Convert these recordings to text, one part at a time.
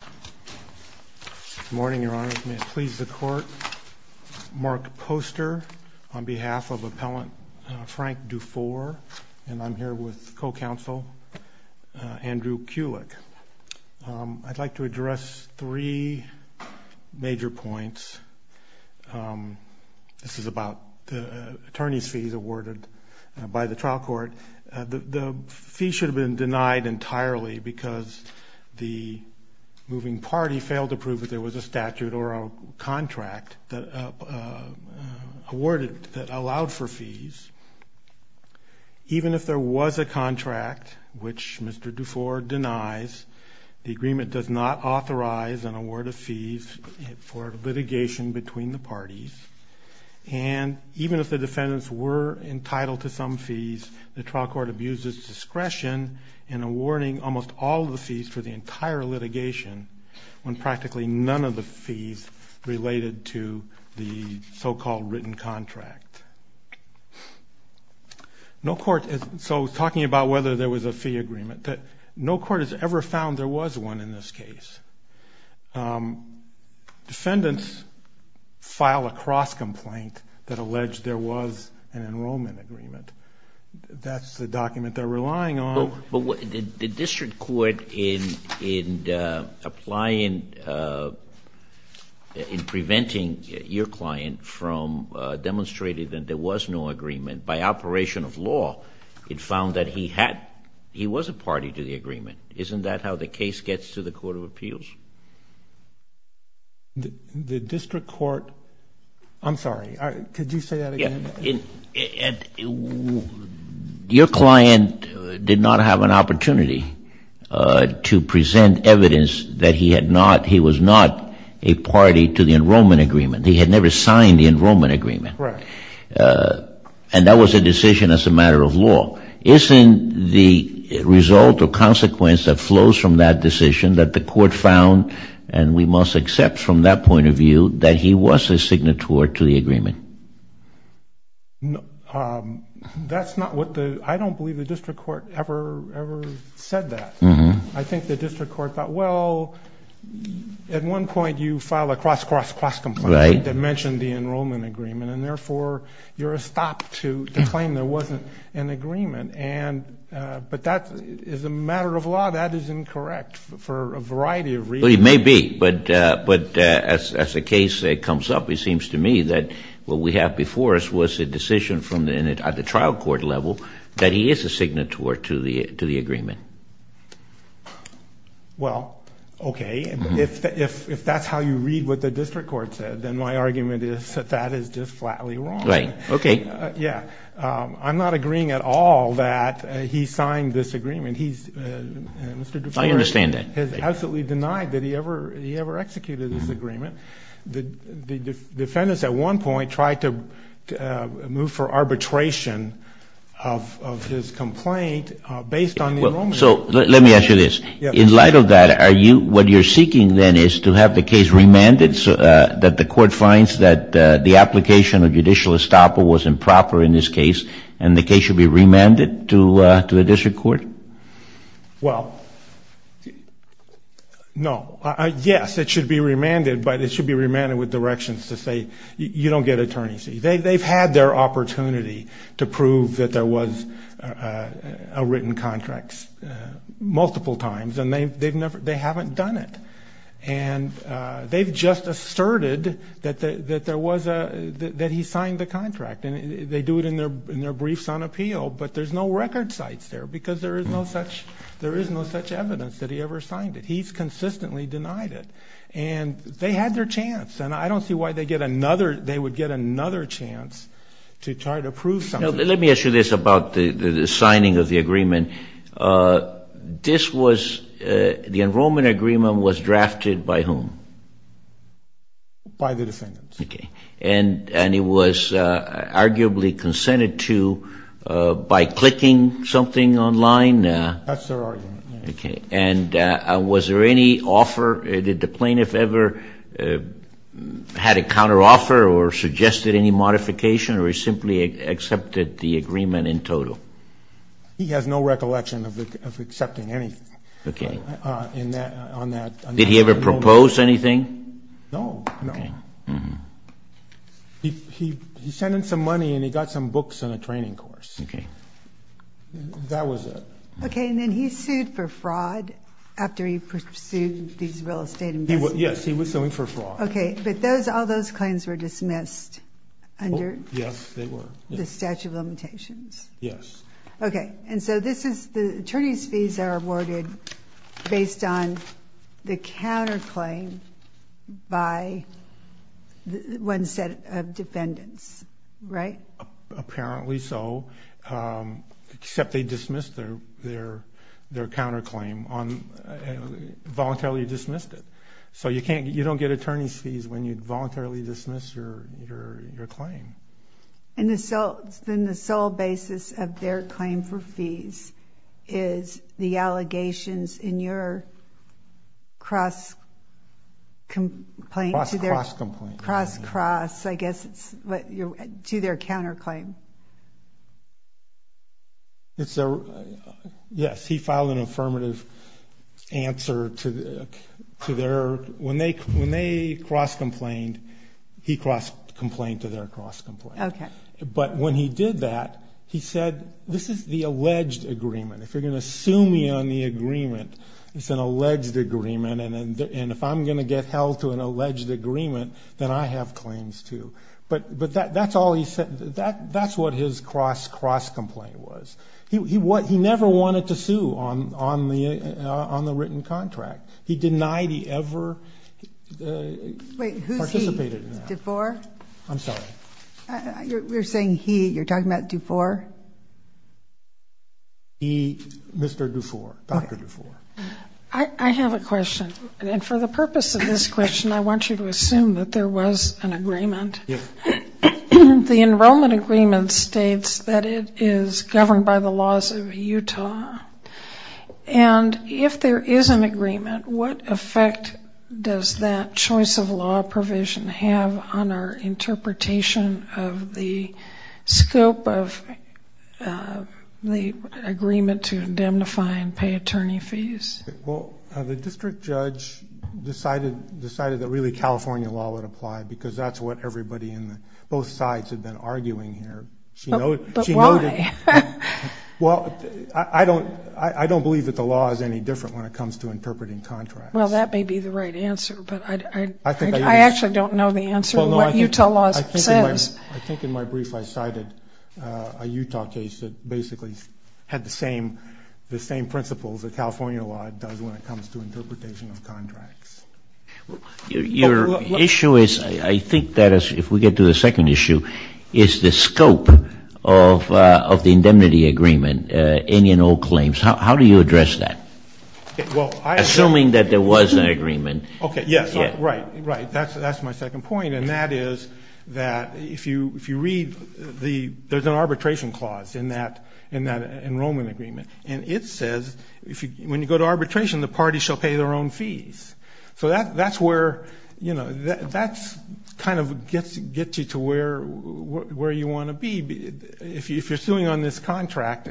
Good morning, Your Honor. May it please the Court, Mark Poster on behalf of Appellant Frank Dufour, and I'm here with co-counsel Andrew Kulik. I'd like to address three major points. This is about the attorney's fees awarded by the trial court. The fees should have been denied entirely because the moving party failed to prove that there was a statute or a contract that allowed for fees. Even if there was a contract, which Mr. Dufour denies, the agreement does not authorize an award of fees for litigation between the parties. And even if the defendants were entitled to some fees, the trial court abuses discretion in awarding almost all the fees for the entire litigation when practically none of the fees related to the so-called written contract. So talking about whether there was a fee agreement, no court has ever found there was one in this case. Defendants file a cross-complaint that alleged there was an enrollment agreement. That's the document they're relying on. But the district court, in preventing your client from demonstrating that there was no agreement, by operation of law, it found that he was a party to the agreement. Isn't that how the case gets to the court of appeals? The district court, I'm sorry, could you say that again? Your client did not have an opportunity to present evidence that he was not a party to the enrollment agreement. He had never signed the enrollment agreement. Correct. And that was a decision as a matter of law. Isn't the result or consequence that flows from that decision that the court found, and we must accept from that point of view, that he was a signatory to the agreement? That's not what the, I don't believe the district court ever said that. I think the district court thought, well, at one point you file a cross, cross, cross complaint that mentioned the enrollment agreement, and therefore you're a stop to claim there wasn't an agreement. But that is a matter of law. That is incorrect for a variety of reasons. Well, it may be. But as the case comes up, it seems to me that what we have before us was a decision at the trial court level that he is a signatory to the agreement. Well, okay. If that's how you read what the district court said, then my argument is that that is just flatly wrong. Right. Okay. I'm not agreeing at all that he signed this agreement. I understand that. He has absolutely denied that he ever executed this agreement. The defendants at one point tried to move for arbitration of his complaint based on the enrollment agreement. So let me ask you this. Yes. In light of that, what you're seeking then is to have the case remanded so that the court finds that the application of judicial estoppel was improper in this case, and the case should be remanded to the district court? Well, no. Yes, it should be remanded. But it should be remanded with directions to say you don't get attorney's leave. They've had their opportunity to prove that there was a written contract multiple times, and they haven't done it. And they've just asserted that he signed the contract. And they do it in their briefs on appeal, but there's no record sites there because there is no such evidence that he ever signed it. He's consistently denied it. And they had their chance, and I don't see why they would get another chance to try to prove something. Now, let me ask you this about the signing of the agreement. This was the enrollment agreement was drafted by whom? By the defendants. Okay. And it was arguably consented to by clicking something online? That's their argument. Okay. And was there any offer? Did the plaintiff ever had a counteroffer or suggested any modification, or he simply accepted the agreement in total? He has no recollection of accepting anything on that. Did he ever propose anything? No. He sent in some money, and he got some books and a training course. Okay. That was it. Okay. And then he sued for fraud after he pursued these real estate investments? Yes, he was suing for fraud. Okay. But all those claims were dismissed under the statute of limitations? Yes. Okay. And so the attorney's fees are awarded based on the counterclaim by one set of defendants, right? Apparently so, except they dismissed their counterclaim, voluntarily dismissed it. So you don't get attorney's fees when you voluntarily dismiss your claim. And then the sole basis of their claim for fees is the allegations in your cross-complaint? Cross-complaint. Cross-cross, I guess it's what you're – to their counterclaim. It's their – yes, he filed an affirmative answer to their – Okay. But when he did that, he said, this is the alleged agreement. If you're going to sue me on the agreement, it's an alleged agreement, and if I'm going to get held to an alleged agreement, then I have claims too. But that's all he said. That's what his cross-complaint was. He never wanted to sue on the written contract. He denied he ever participated in that. Wait, who's he? DeVore? I'm sorry. You're saying he. You're talking about DeVore? He, Mr. DeVore, Dr. DeVore. I have a question. And for the purpose of this question, I want you to assume that there was an agreement. Yes. The enrollment agreement states that it is governed by the laws of Utah. And if there is an agreement, what effect does that choice of law provision have on our interpretation of the scope of the agreement to indemnify and pay attorney fees? Well, the district judge decided that really California law would apply because that's what everybody on both sides had been arguing here. But why? Well, I don't believe that the law is any different when it comes to interpreting contracts. Well, that may be the right answer, but I actually don't know the answer to what Utah law says. I think in my brief I cited a Utah case that basically had the same principles that California law does when it comes to interpretation of contracts. Your issue is, I think that if we get to the second issue, is the scope of the indemnity agreement, any and all claims. How do you address that? Assuming that there was an agreement. Okay, yes. Right, right. That's my second point. And that is that if you read, there's an arbitration clause in that enrollment agreement. And it says, when you go to arbitration, the parties shall pay their own fees. So that's where, you know, that kind of gets you to where you want to be. If you're suing on this contract,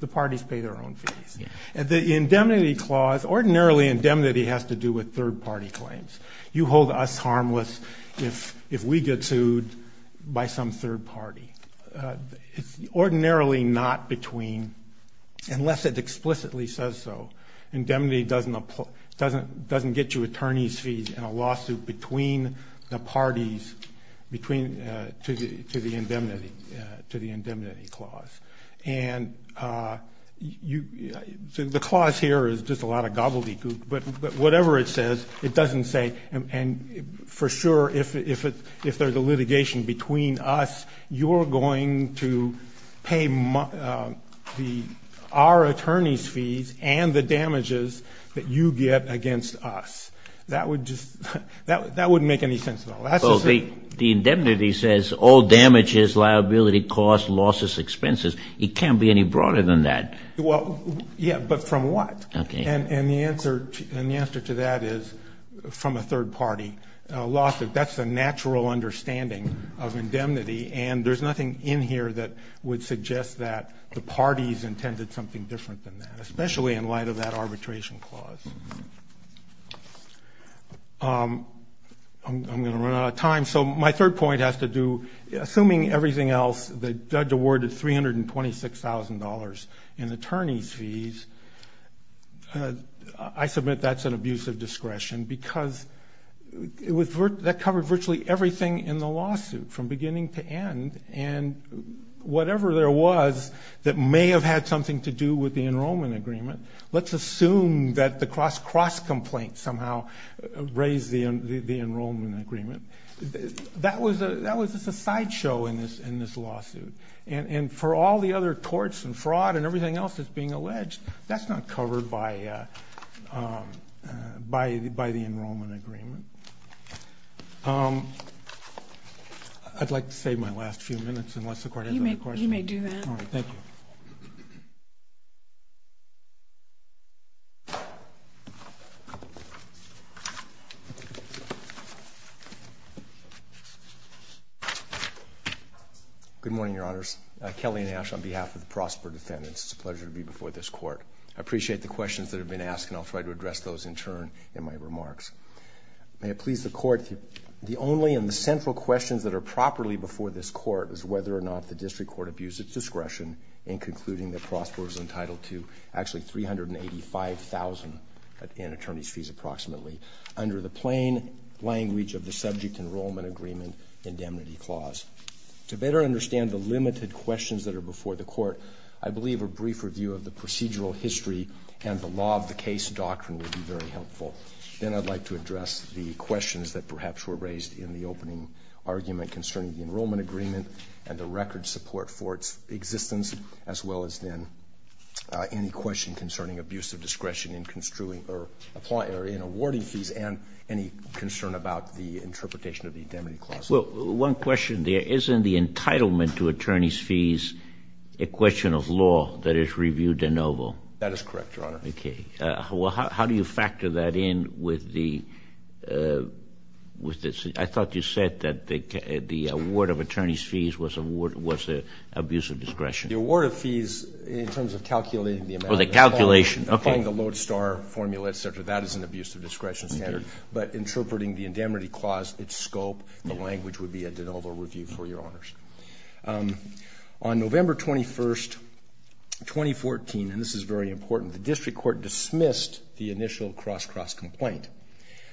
the parties pay their own fees. The indemnity clause, ordinarily indemnity has to do with third-party claims. You hold us harmless if we get sued by some third party. It's ordinarily not between, unless it explicitly says so, indemnity doesn't get you attorney's fees in a lawsuit between the parties to the indemnity clause. And the clause here is just a lot of gobbledygook. But whatever it says, it doesn't say, and for sure if there's a litigation between us, you're going to pay our attorney's fees and the damages that you get against us. That would just, that wouldn't make any sense at all. The indemnity says all damages, liability costs, losses, expenses. It can't be any broader than that. Well, yeah, but from what? And the answer to that is from a third party. That's the natural understanding of indemnity, and there's nothing in here that would suggest that the parties intended something different than that, especially in light of that arbitration clause. I'm going to run out of time, so my third point has to do, assuming everything else, the judge awarded $326,000 in attorney's fees, I submit that's an abuse of discretion because that covered virtually everything in the lawsuit from beginning to end. And whatever there was that may have had something to do with the enrollment agreement, let's assume that the cross-cross complaint somehow raised the enrollment agreement. That was just a sideshow in this lawsuit. And for all the other torts and fraud and everything else that's being alleged, that's not covered by the enrollment agreement. I'd like to save my last few minutes unless the Court has other questions. You may do that. All right, thank you. Good morning, Your Honors. I'm Kelly Nash on behalf of the Prosper defendants. It's a pleasure to be before this Court. I appreciate the questions that have been asked, and I'll try to address those in turn in my remarks. May it please the Court, the only and the central questions that are properly before this Court is whether or not the district court abused its discretion in concluding that Prosper was entitled to, actually, $385,000 in attorney's fees approximately under the plain language of the subject enrollment agreement indemnity clause. To better understand the limited questions that are before the Court, I believe a brief review of the procedural history and the law of the case doctrine would be very helpful. Then I'd like to address the questions that perhaps were raised in the opening argument concerning the enrollment agreement and the record support for its existence, as well as then any question concerning abuse of discretion in awarding fees and any concern about the interpretation of the indemnity clause. Well, one question there. Isn't the entitlement to attorney's fees a question of law that is reviewed de novo? That is correct, Your Honor. Okay. Well, how do you factor that in with the ‑‑ I thought you said that the award of attorney's fees was an abuse of discretion. The award of fees in terms of calculating the amount. Oh, the calculation, okay. Following the Lodestar formula, et cetera, that is an abuse of discretion, but interpreting the indemnity clause, its scope, the language would be a de novo review for Your Honors. On November 21, 2014, and this is very important, the District Court dismissed the initial cross‑cross complaint,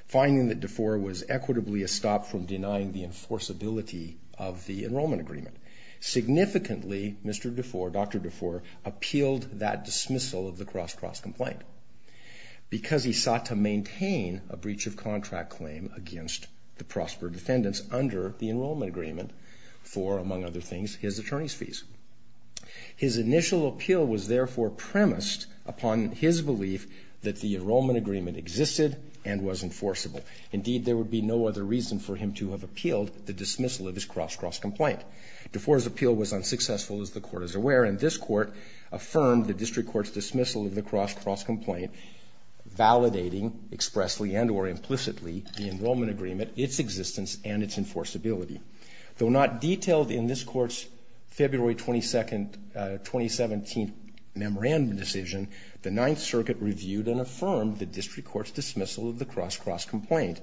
finding that DeFore was equitably a stop from denying the enforceability of the enrollment agreement. Significantly, Mr. DeFore, Dr. DeFore, appealed that dismissal of the cross‑cross complaint because he sought to maintain a breach of contract claim against the prosper defendants under the enrollment agreement for, among other things, his attorney's fees. His initial appeal was therefore premised upon his belief that the enrollment agreement existed and was enforceable. Indeed, there would be no other reason for him to have appealed the dismissal of his cross‑cross complaint. DeFore's appeal was unsuccessful, as the Court is aware, and this Court affirmed the District Court's dismissal of the cross‑cross complaint, validating expressly and or implicitly the enrollment agreement, its existence, and its enforceability. Though not detailed in this Court's February 22, 2017 memorandum decision, the Ninth Circuit reviewed and affirmed the District Court's dismissal of the cross‑cross complaint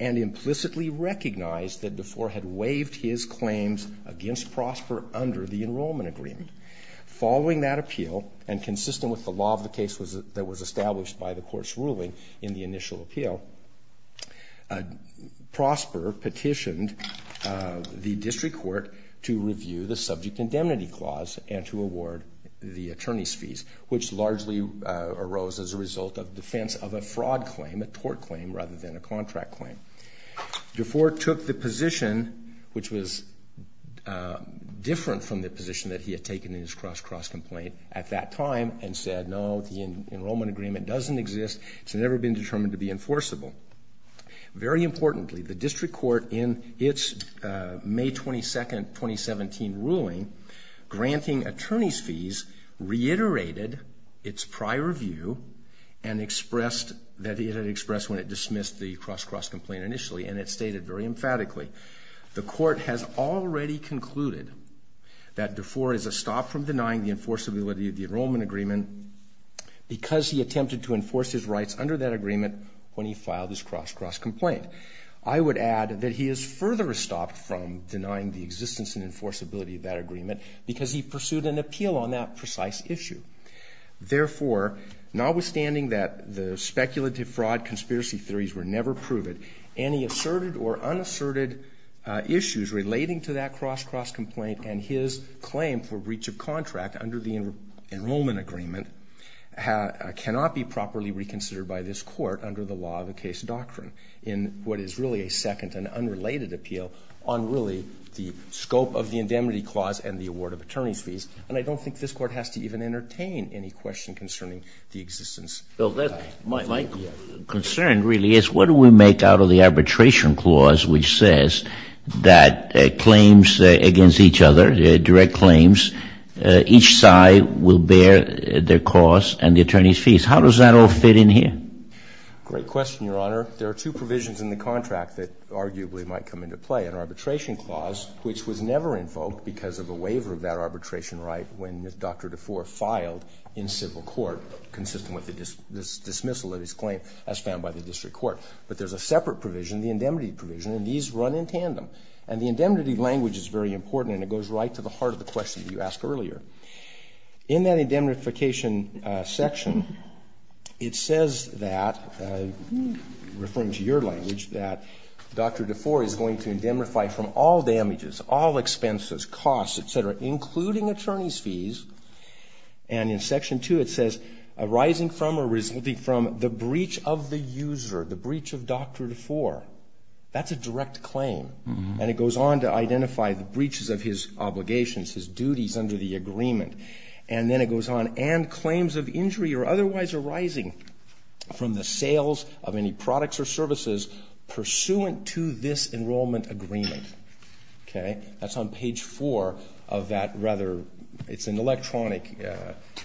and implicitly recognized that DeFore had waived his claims against Prosper under the enrollment agreement. Following that appeal, and consistent with the law of the case that was established by the Court's ruling in the initial appeal, Prosper petitioned the District Court to review the subject indemnity clause and to award the attorney's fees, which largely arose as a result of defense of a fraud claim, a tort claim, rather than a contract claim. DeFore took the position, which was different from the position that he had taken in his cross‑cross complaint at that time and said, no, the enrollment agreement doesn't exist. It's never been determined to be enforceable. Very importantly, the District Court, in its May 22, 2017 ruling, granting attorney's fees, reiterated its prior view that it had expressed when it dismissed the cross‑cross complaint initially, and it stated very emphatically, the Court has already concluded that DeFore is a stop from denying the enforceability of the enrollment agreement because he attempted to enforce his rights under that agreement when he filed his cross‑cross complaint. I would add that he is further stopped from denying the existence and enforceability of that agreement because he pursued an appeal on that precise issue. Therefore, notwithstanding that the speculative fraud conspiracy theories were never proven, any asserted or unasserted issues relating to that cross‑cross complaint and his claim for breach of contract under the enrollment agreement cannot be properly reconsidered by this Court under the law of the case doctrine in what is really a second and unrelated appeal on really the scope of the indemnity clause and the award of attorney's fees. And I don't think this Court has to even entertain any question concerning the existence. My concern really is what do we make out of the arbitration clause which says that claims against each other, direct claims, each side will bear their costs and the attorney's fees. How does that all fit in here? Great question, Your Honor. There are two provisions in the contract that arguably might come into play. An arbitration clause which was never invoked because of a waiver of that arbitration right when Dr. DeFore filed in civil court consistent with the dismissal of his claim as found by the district court. But there is a separate provision, the indemnity provision, and these run in tandem. And the indemnity language is very important and it goes right to the heart of the question you asked earlier. In that indemnification section, it says that, referring to your language, that Dr. DeFore is going to indemnify from all damages, all expenses, costs, et cetera, including attorney's fees. And in Section 2 it says arising from or resulting from the breach of the user, the breach of Dr. DeFore. That's a direct claim. And it goes on to identify the breaches of his obligations, his duties under the agreement. And then it goes on, and claims of injury or otherwise arising from the sales of any products or services pursuant to this enrollment agreement. Okay? That's on page 4 of that rather, it's an electronic.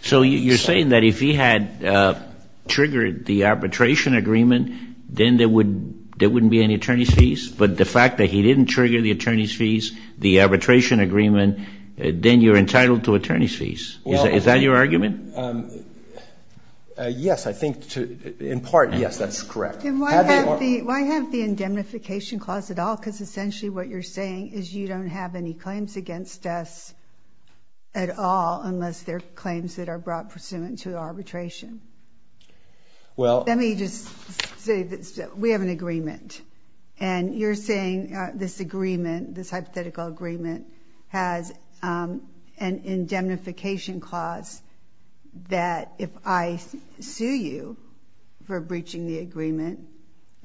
So you're saying that if he had triggered the arbitration agreement, then there wouldn't be any attorney's fees? But the fact that he didn't trigger the attorney's fees, the arbitration agreement, then you're entitled to attorney's fees? Is that your argument? Yes, I think, in part, yes, that's correct. Why have the indemnification clause at all? Because essentially what you're saying is you don't have any claims against us at all, unless they're claims that are brought pursuant to arbitration. Let me just say this. We have an agreement, and you're saying this agreement, this hypothetical agreement, has an indemnification clause that if I sue you for breaching the agreement,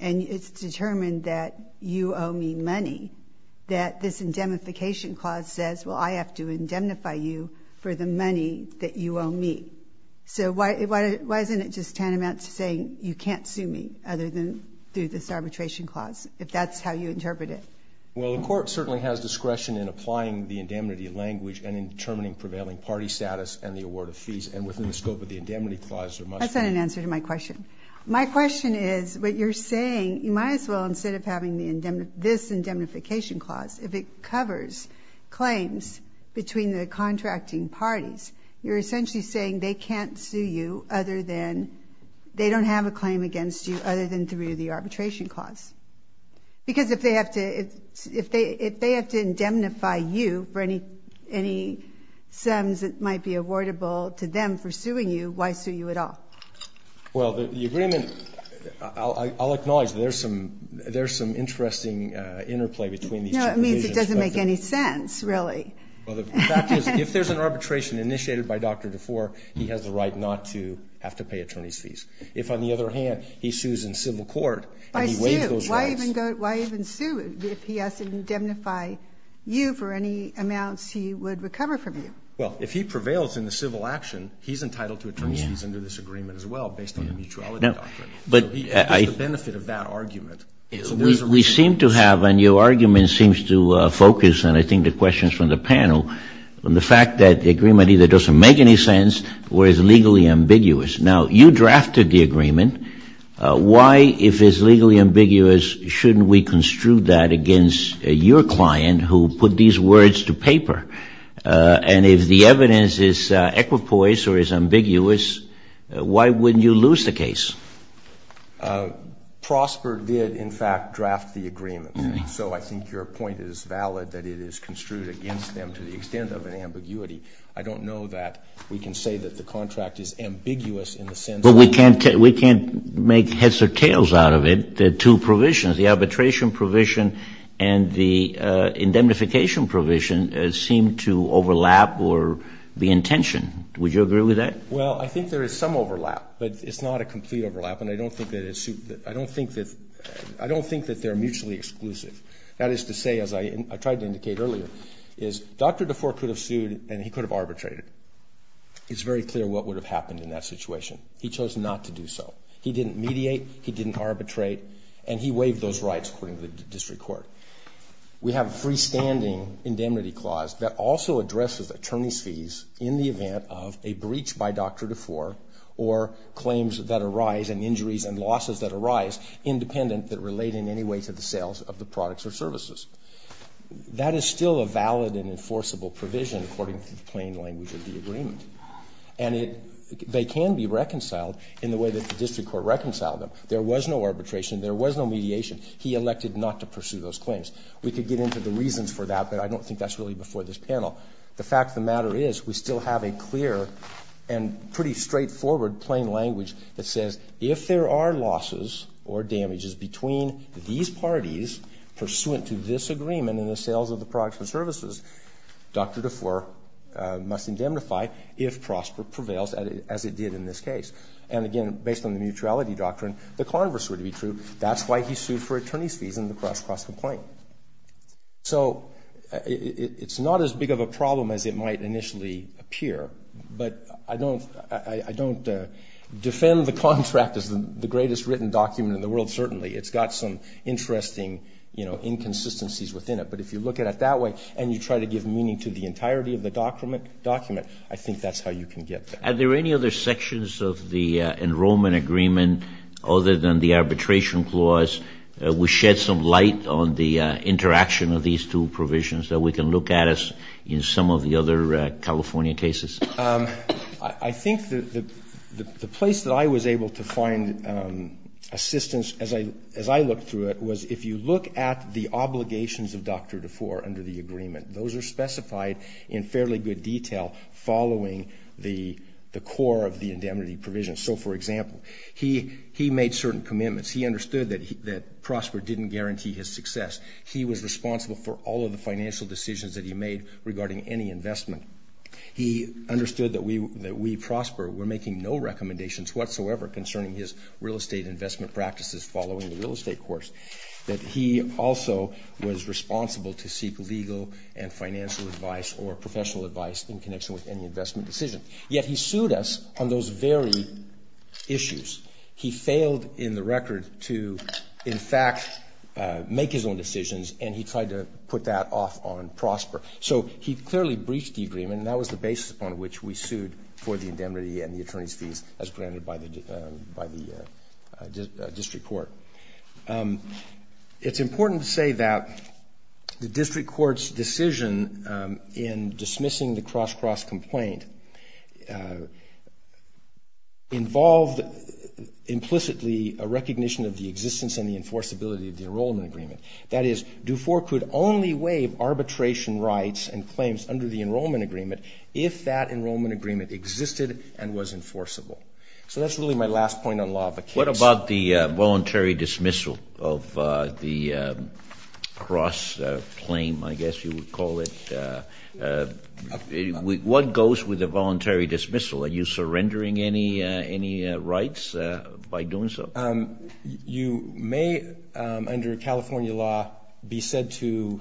and it's determined that you owe me money, that this indemnification clause says, well, I have to indemnify you for the money that you owe me. So why isn't it just tantamount to saying you can't sue me other than through this arbitration clause, if that's how you interpret it? Well, the court certainly has discretion in applying the indemnity language and in determining prevailing party status and the award of fees, and within the scope of the indemnity clause, there must be. That's not an answer to my question. My question is what you're saying, you might as well, instead of having this indemnification clause, if it covers claims between the contracting parties, you're essentially saying they can't sue you other than they don't have a claim against you other than through the arbitration clause. Because if they have to indemnify you for any sums that might be awardable to them for suing you, why sue you at all? Well, the agreement, I'll acknowledge there's some interesting interplay between these two. No, it means it doesn't make any sense, really. Well, the fact is if there's an arbitration initiated by Dr. DeFore, he has the right not to have to pay attorney's fees. If, on the other hand, he sues in civil court and he waives those rights. Why sue? Why even sue if he has to indemnify you for any amounts he would recover from you? Well, if he prevails in the civil action, he's entitled to attorney's fees under this agreement as well based on the mutuality doctrine. So he has the benefit of that argument. We seem to have, and your argument seems to focus, and I think the questions from the panel, on the fact that the agreement either doesn't make any sense or is legally ambiguous. Now, you drafted the agreement. Why, if it's legally ambiguous, shouldn't we construe that against your client who put these words to paper? And if the evidence is equipoise or is ambiguous, why wouldn't you lose the case? Prosper did, in fact, draft the agreement. So I think your point is valid that it is construed against them to the extent of an ambiguity. I don't know that we can say that the contract is ambiguous in the sense that we can't make heads or tails out of it. The two provisions, the arbitration provision and the indemnification provision, seem to overlap or be in tension. Would you agree with that? Well, I think there is some overlap, but it's not a complete overlap, and I don't think that they're mutually exclusive. That is to say, as I tried to indicate earlier, is Dr. DeFore could have sued and he could have arbitrated. It's very clear what would have happened in that situation. He chose not to do so. He didn't mediate, he didn't arbitrate, and he waived those rights according to the district court. We have a freestanding indemnity clause that also addresses attorney's fees in the event of a breach by Dr. DeFore or claims that arise and injuries and losses that arise independent that relate in any way to the sales of the products or services. That is still a valid and enforceable provision according to the plain language of the agreement. And they can be reconciled in the way that the district court reconciled them. There was no arbitration. There was no mediation. He elected not to pursue those claims. We could get into the reasons for that, but I don't think that's really before this panel. The fact of the matter is we still have a clear and pretty straightforward plain language that says if there are losses or damages between these parties pursuant to this agreement in the sales of the products or services, Dr. DeFore must indemnify if PROSPER prevails as it did in this case. And, again, based on the mutuality doctrine, the converse would be true. That's why he sued for attorney's fees in the cross-cross complaint. So it's not as big of a problem as it might initially appear, but I don't defend the contract as the greatest written document in the world, certainly. It's got some interesting, you know, inconsistencies within it. But if you look at it that way and you try to give meaning to the entirety of the document, I think that's how you can get there. Are there any other sections of the enrollment agreement other than the arbitration clause which shed some light on the interaction of these two provisions that we can look at as in some of the other California cases? I think the place that I was able to find assistance as I looked through it was if you look at the obligations of Dr. DeFore Those are specified in fairly good detail following the core of the indemnity provision. So, for example, he made certain commitments. He understood that PROSPER didn't guarantee his success. He was responsible for all of the financial decisions that he made regarding any investment. He understood that we, PROSPER, were making no recommendations whatsoever concerning his real estate investment practices following the real estate course, that he also was responsible to seek legal and financial advice or professional advice in connection with any investment decision. Yet he sued us on those very issues. He failed in the record to, in fact, make his own decisions, and he tried to put that off on PROSPER. So he clearly breached the agreement, and that was the basis upon which we sued for the indemnity and the attorney's fees as granted by the district court. It's important to say that the district court's decision in dismissing the Cross Cross complaint involved implicitly a recognition of the existence and the enforceability of the enrollment agreement. That is, DeFore could only waive arbitration rights and claims under the enrollment agreement if that enrollment agreement existed and was enforceable. So that's really my last point on law of a case. What about the voluntary dismissal of the Cross claim, I guess you would call it? What goes with the voluntary dismissal? Are you surrendering any rights by doing so? You may, under California law, be said to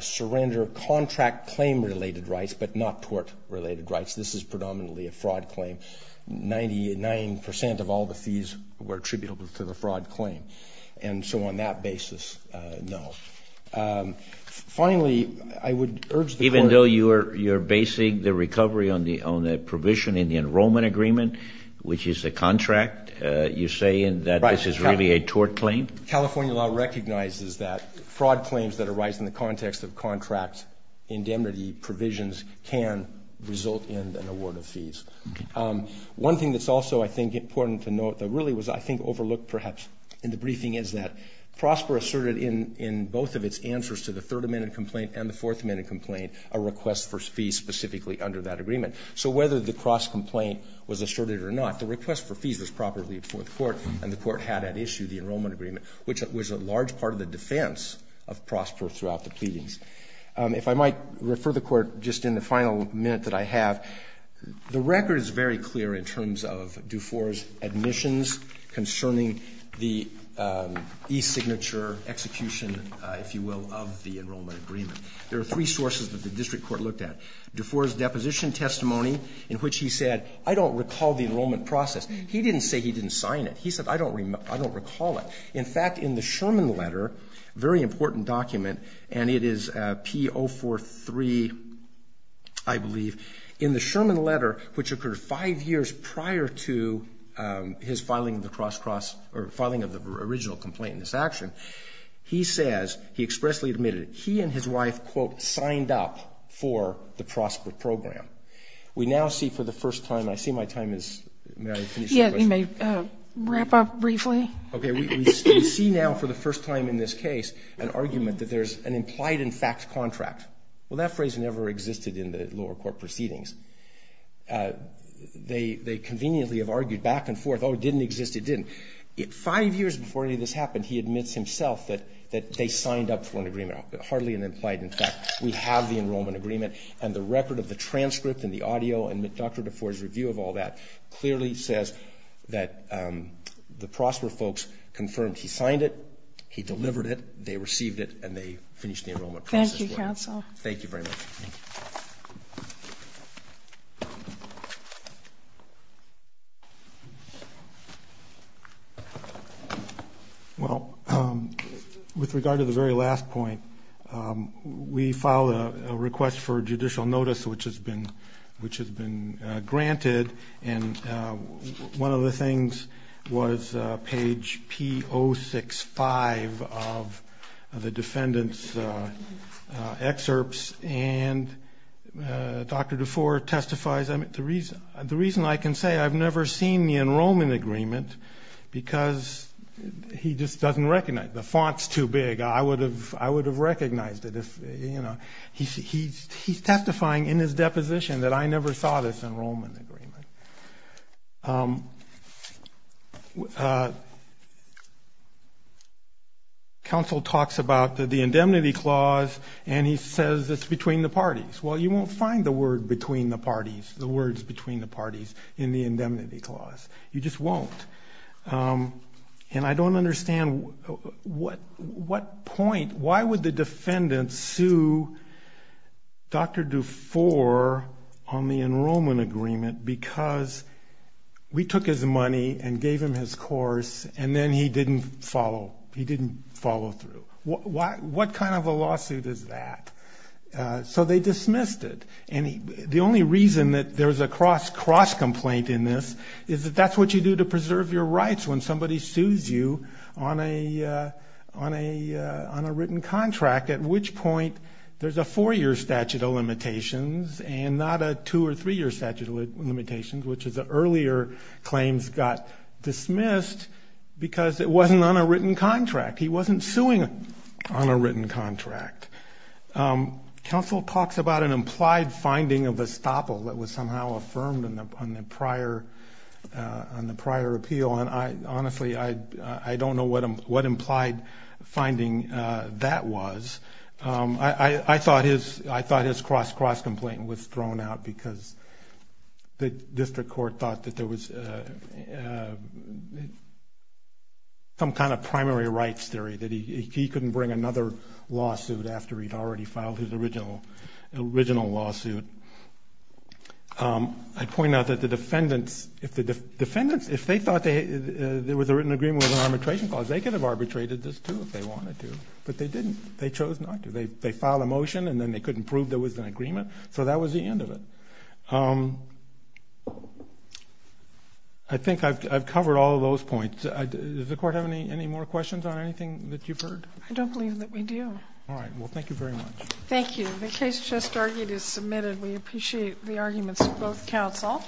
surrender contract claim-related rights, but not tort-related rights. This is predominantly a fraud claim. Ninety-nine percent of all the fees were attributable to the fraud claim. And so on that basis, no. Finally, I would urge the court— Even though you're basing the recovery on the provision in the enrollment agreement, which is a contract, you're saying that this is really a tort claim? California law recognizes that fraud claims that arise in the context of contract indemnity provisions can result in an award of fees. One thing that's also, I think, important to note that really was, I think, overlooked perhaps in the briefing is that PROSPER asserted in both of its answers to the Third Amendment complaint and the Fourth Amendment complaint a request for fees specifically under that agreement. So whether the cross-complaint was asserted or not, the request for fees was properly before the Court, and the Court had at issue the enrollment agreement, which was a large part of the defense of PROSPER throughout the pleadings. If I might refer the Court just in the final minute that I have, the record is very clear in terms of Dufour's admissions concerning the e-signature execution, if you will, of the enrollment agreement. There are three sources that the district court looked at. Dufour's deposition testimony in which he said, I don't recall the enrollment process. He didn't say he didn't sign it. He said, I don't recall it. In fact, in the Sherman letter, a very important document, and it is P-043, I believe. In the Sherman letter, which occurred five years prior to his filing of the cross-cross or filing of the original complaint in this action, he says, he expressly admitted that he and his wife, quote, signed up for the PROSPER program. We now see for the first time, I see my time is, may I finish my question? Yes, you may wrap up briefly. Okay. We see now for the first time in this case an argument that there's an implied in fact contract. Well, that phrase never existed in the lower court proceedings. They conveniently have argued back and forth, oh, it didn't exist, it didn't. Five years before any of this happened, he admits himself that they signed up for an agreement. Hardly an implied, in fact, we have the enrollment agreement, and the record of the transcript and the audio and Dr. Dufour's review of all that clearly says that the PROSPER folks confirmed he signed it, he delivered it, they received it, and they finished the enrollment process. Thank you, counsel. Thank you very much. Well, with regard to the very last point, we filed a request for judicial notice which has been granted, and one of the things was page P065 of the defendant's excerpts, and Dr. Dufour testifies, the reason I can say I've never seen the enrollment agreement because he just doesn't recognize it, the font's too big, I would have recognized it. He's testifying in his deposition that I never saw this enrollment agreement. Counsel talks about the indemnity clause, and he says it's between the parties. Well, you won't find the word between the parties, the words between the parties in the indemnity clause. You just won't. And I don't understand what point, why would the defendant sue Dr. Dufour on the enrollment agreement because we took his money and gave him his course, and then he didn't follow through. What kind of a lawsuit is that? So they dismissed it. The only reason that there's a cross-complaint in this is that that's what you do to preserve your rights when somebody sues you on a written contract, at which point there's a four-year statute of limitations and not a two- or three-year statute of limitations, which is the earlier claims got dismissed because it wasn't on a written contract. He wasn't suing on a written contract. Counsel talks about an implied finding of estoppel that was somehow affirmed on the prior appeal, and honestly, I don't know what implied finding that was. I thought his cross-complaint was thrown out because the district court thought that there was some kind of primary rights theory, that he couldn't bring another lawsuit after he'd already filed his original lawsuit. I point out that the defendants, if they thought there was a written agreement with an arbitration clause, they could have arbitrated this, too, if they wanted to, but they didn't. They chose not to. They filed a motion, and then they couldn't prove there was an agreement. So that was the end of it. I think I've covered all of those points. Does the Court have any more questions on anything that you've heard? I don't believe that we do. All right. Well, thank you very much. Thank you. The case just argued is submitted. We appreciate the arguments of both counsel.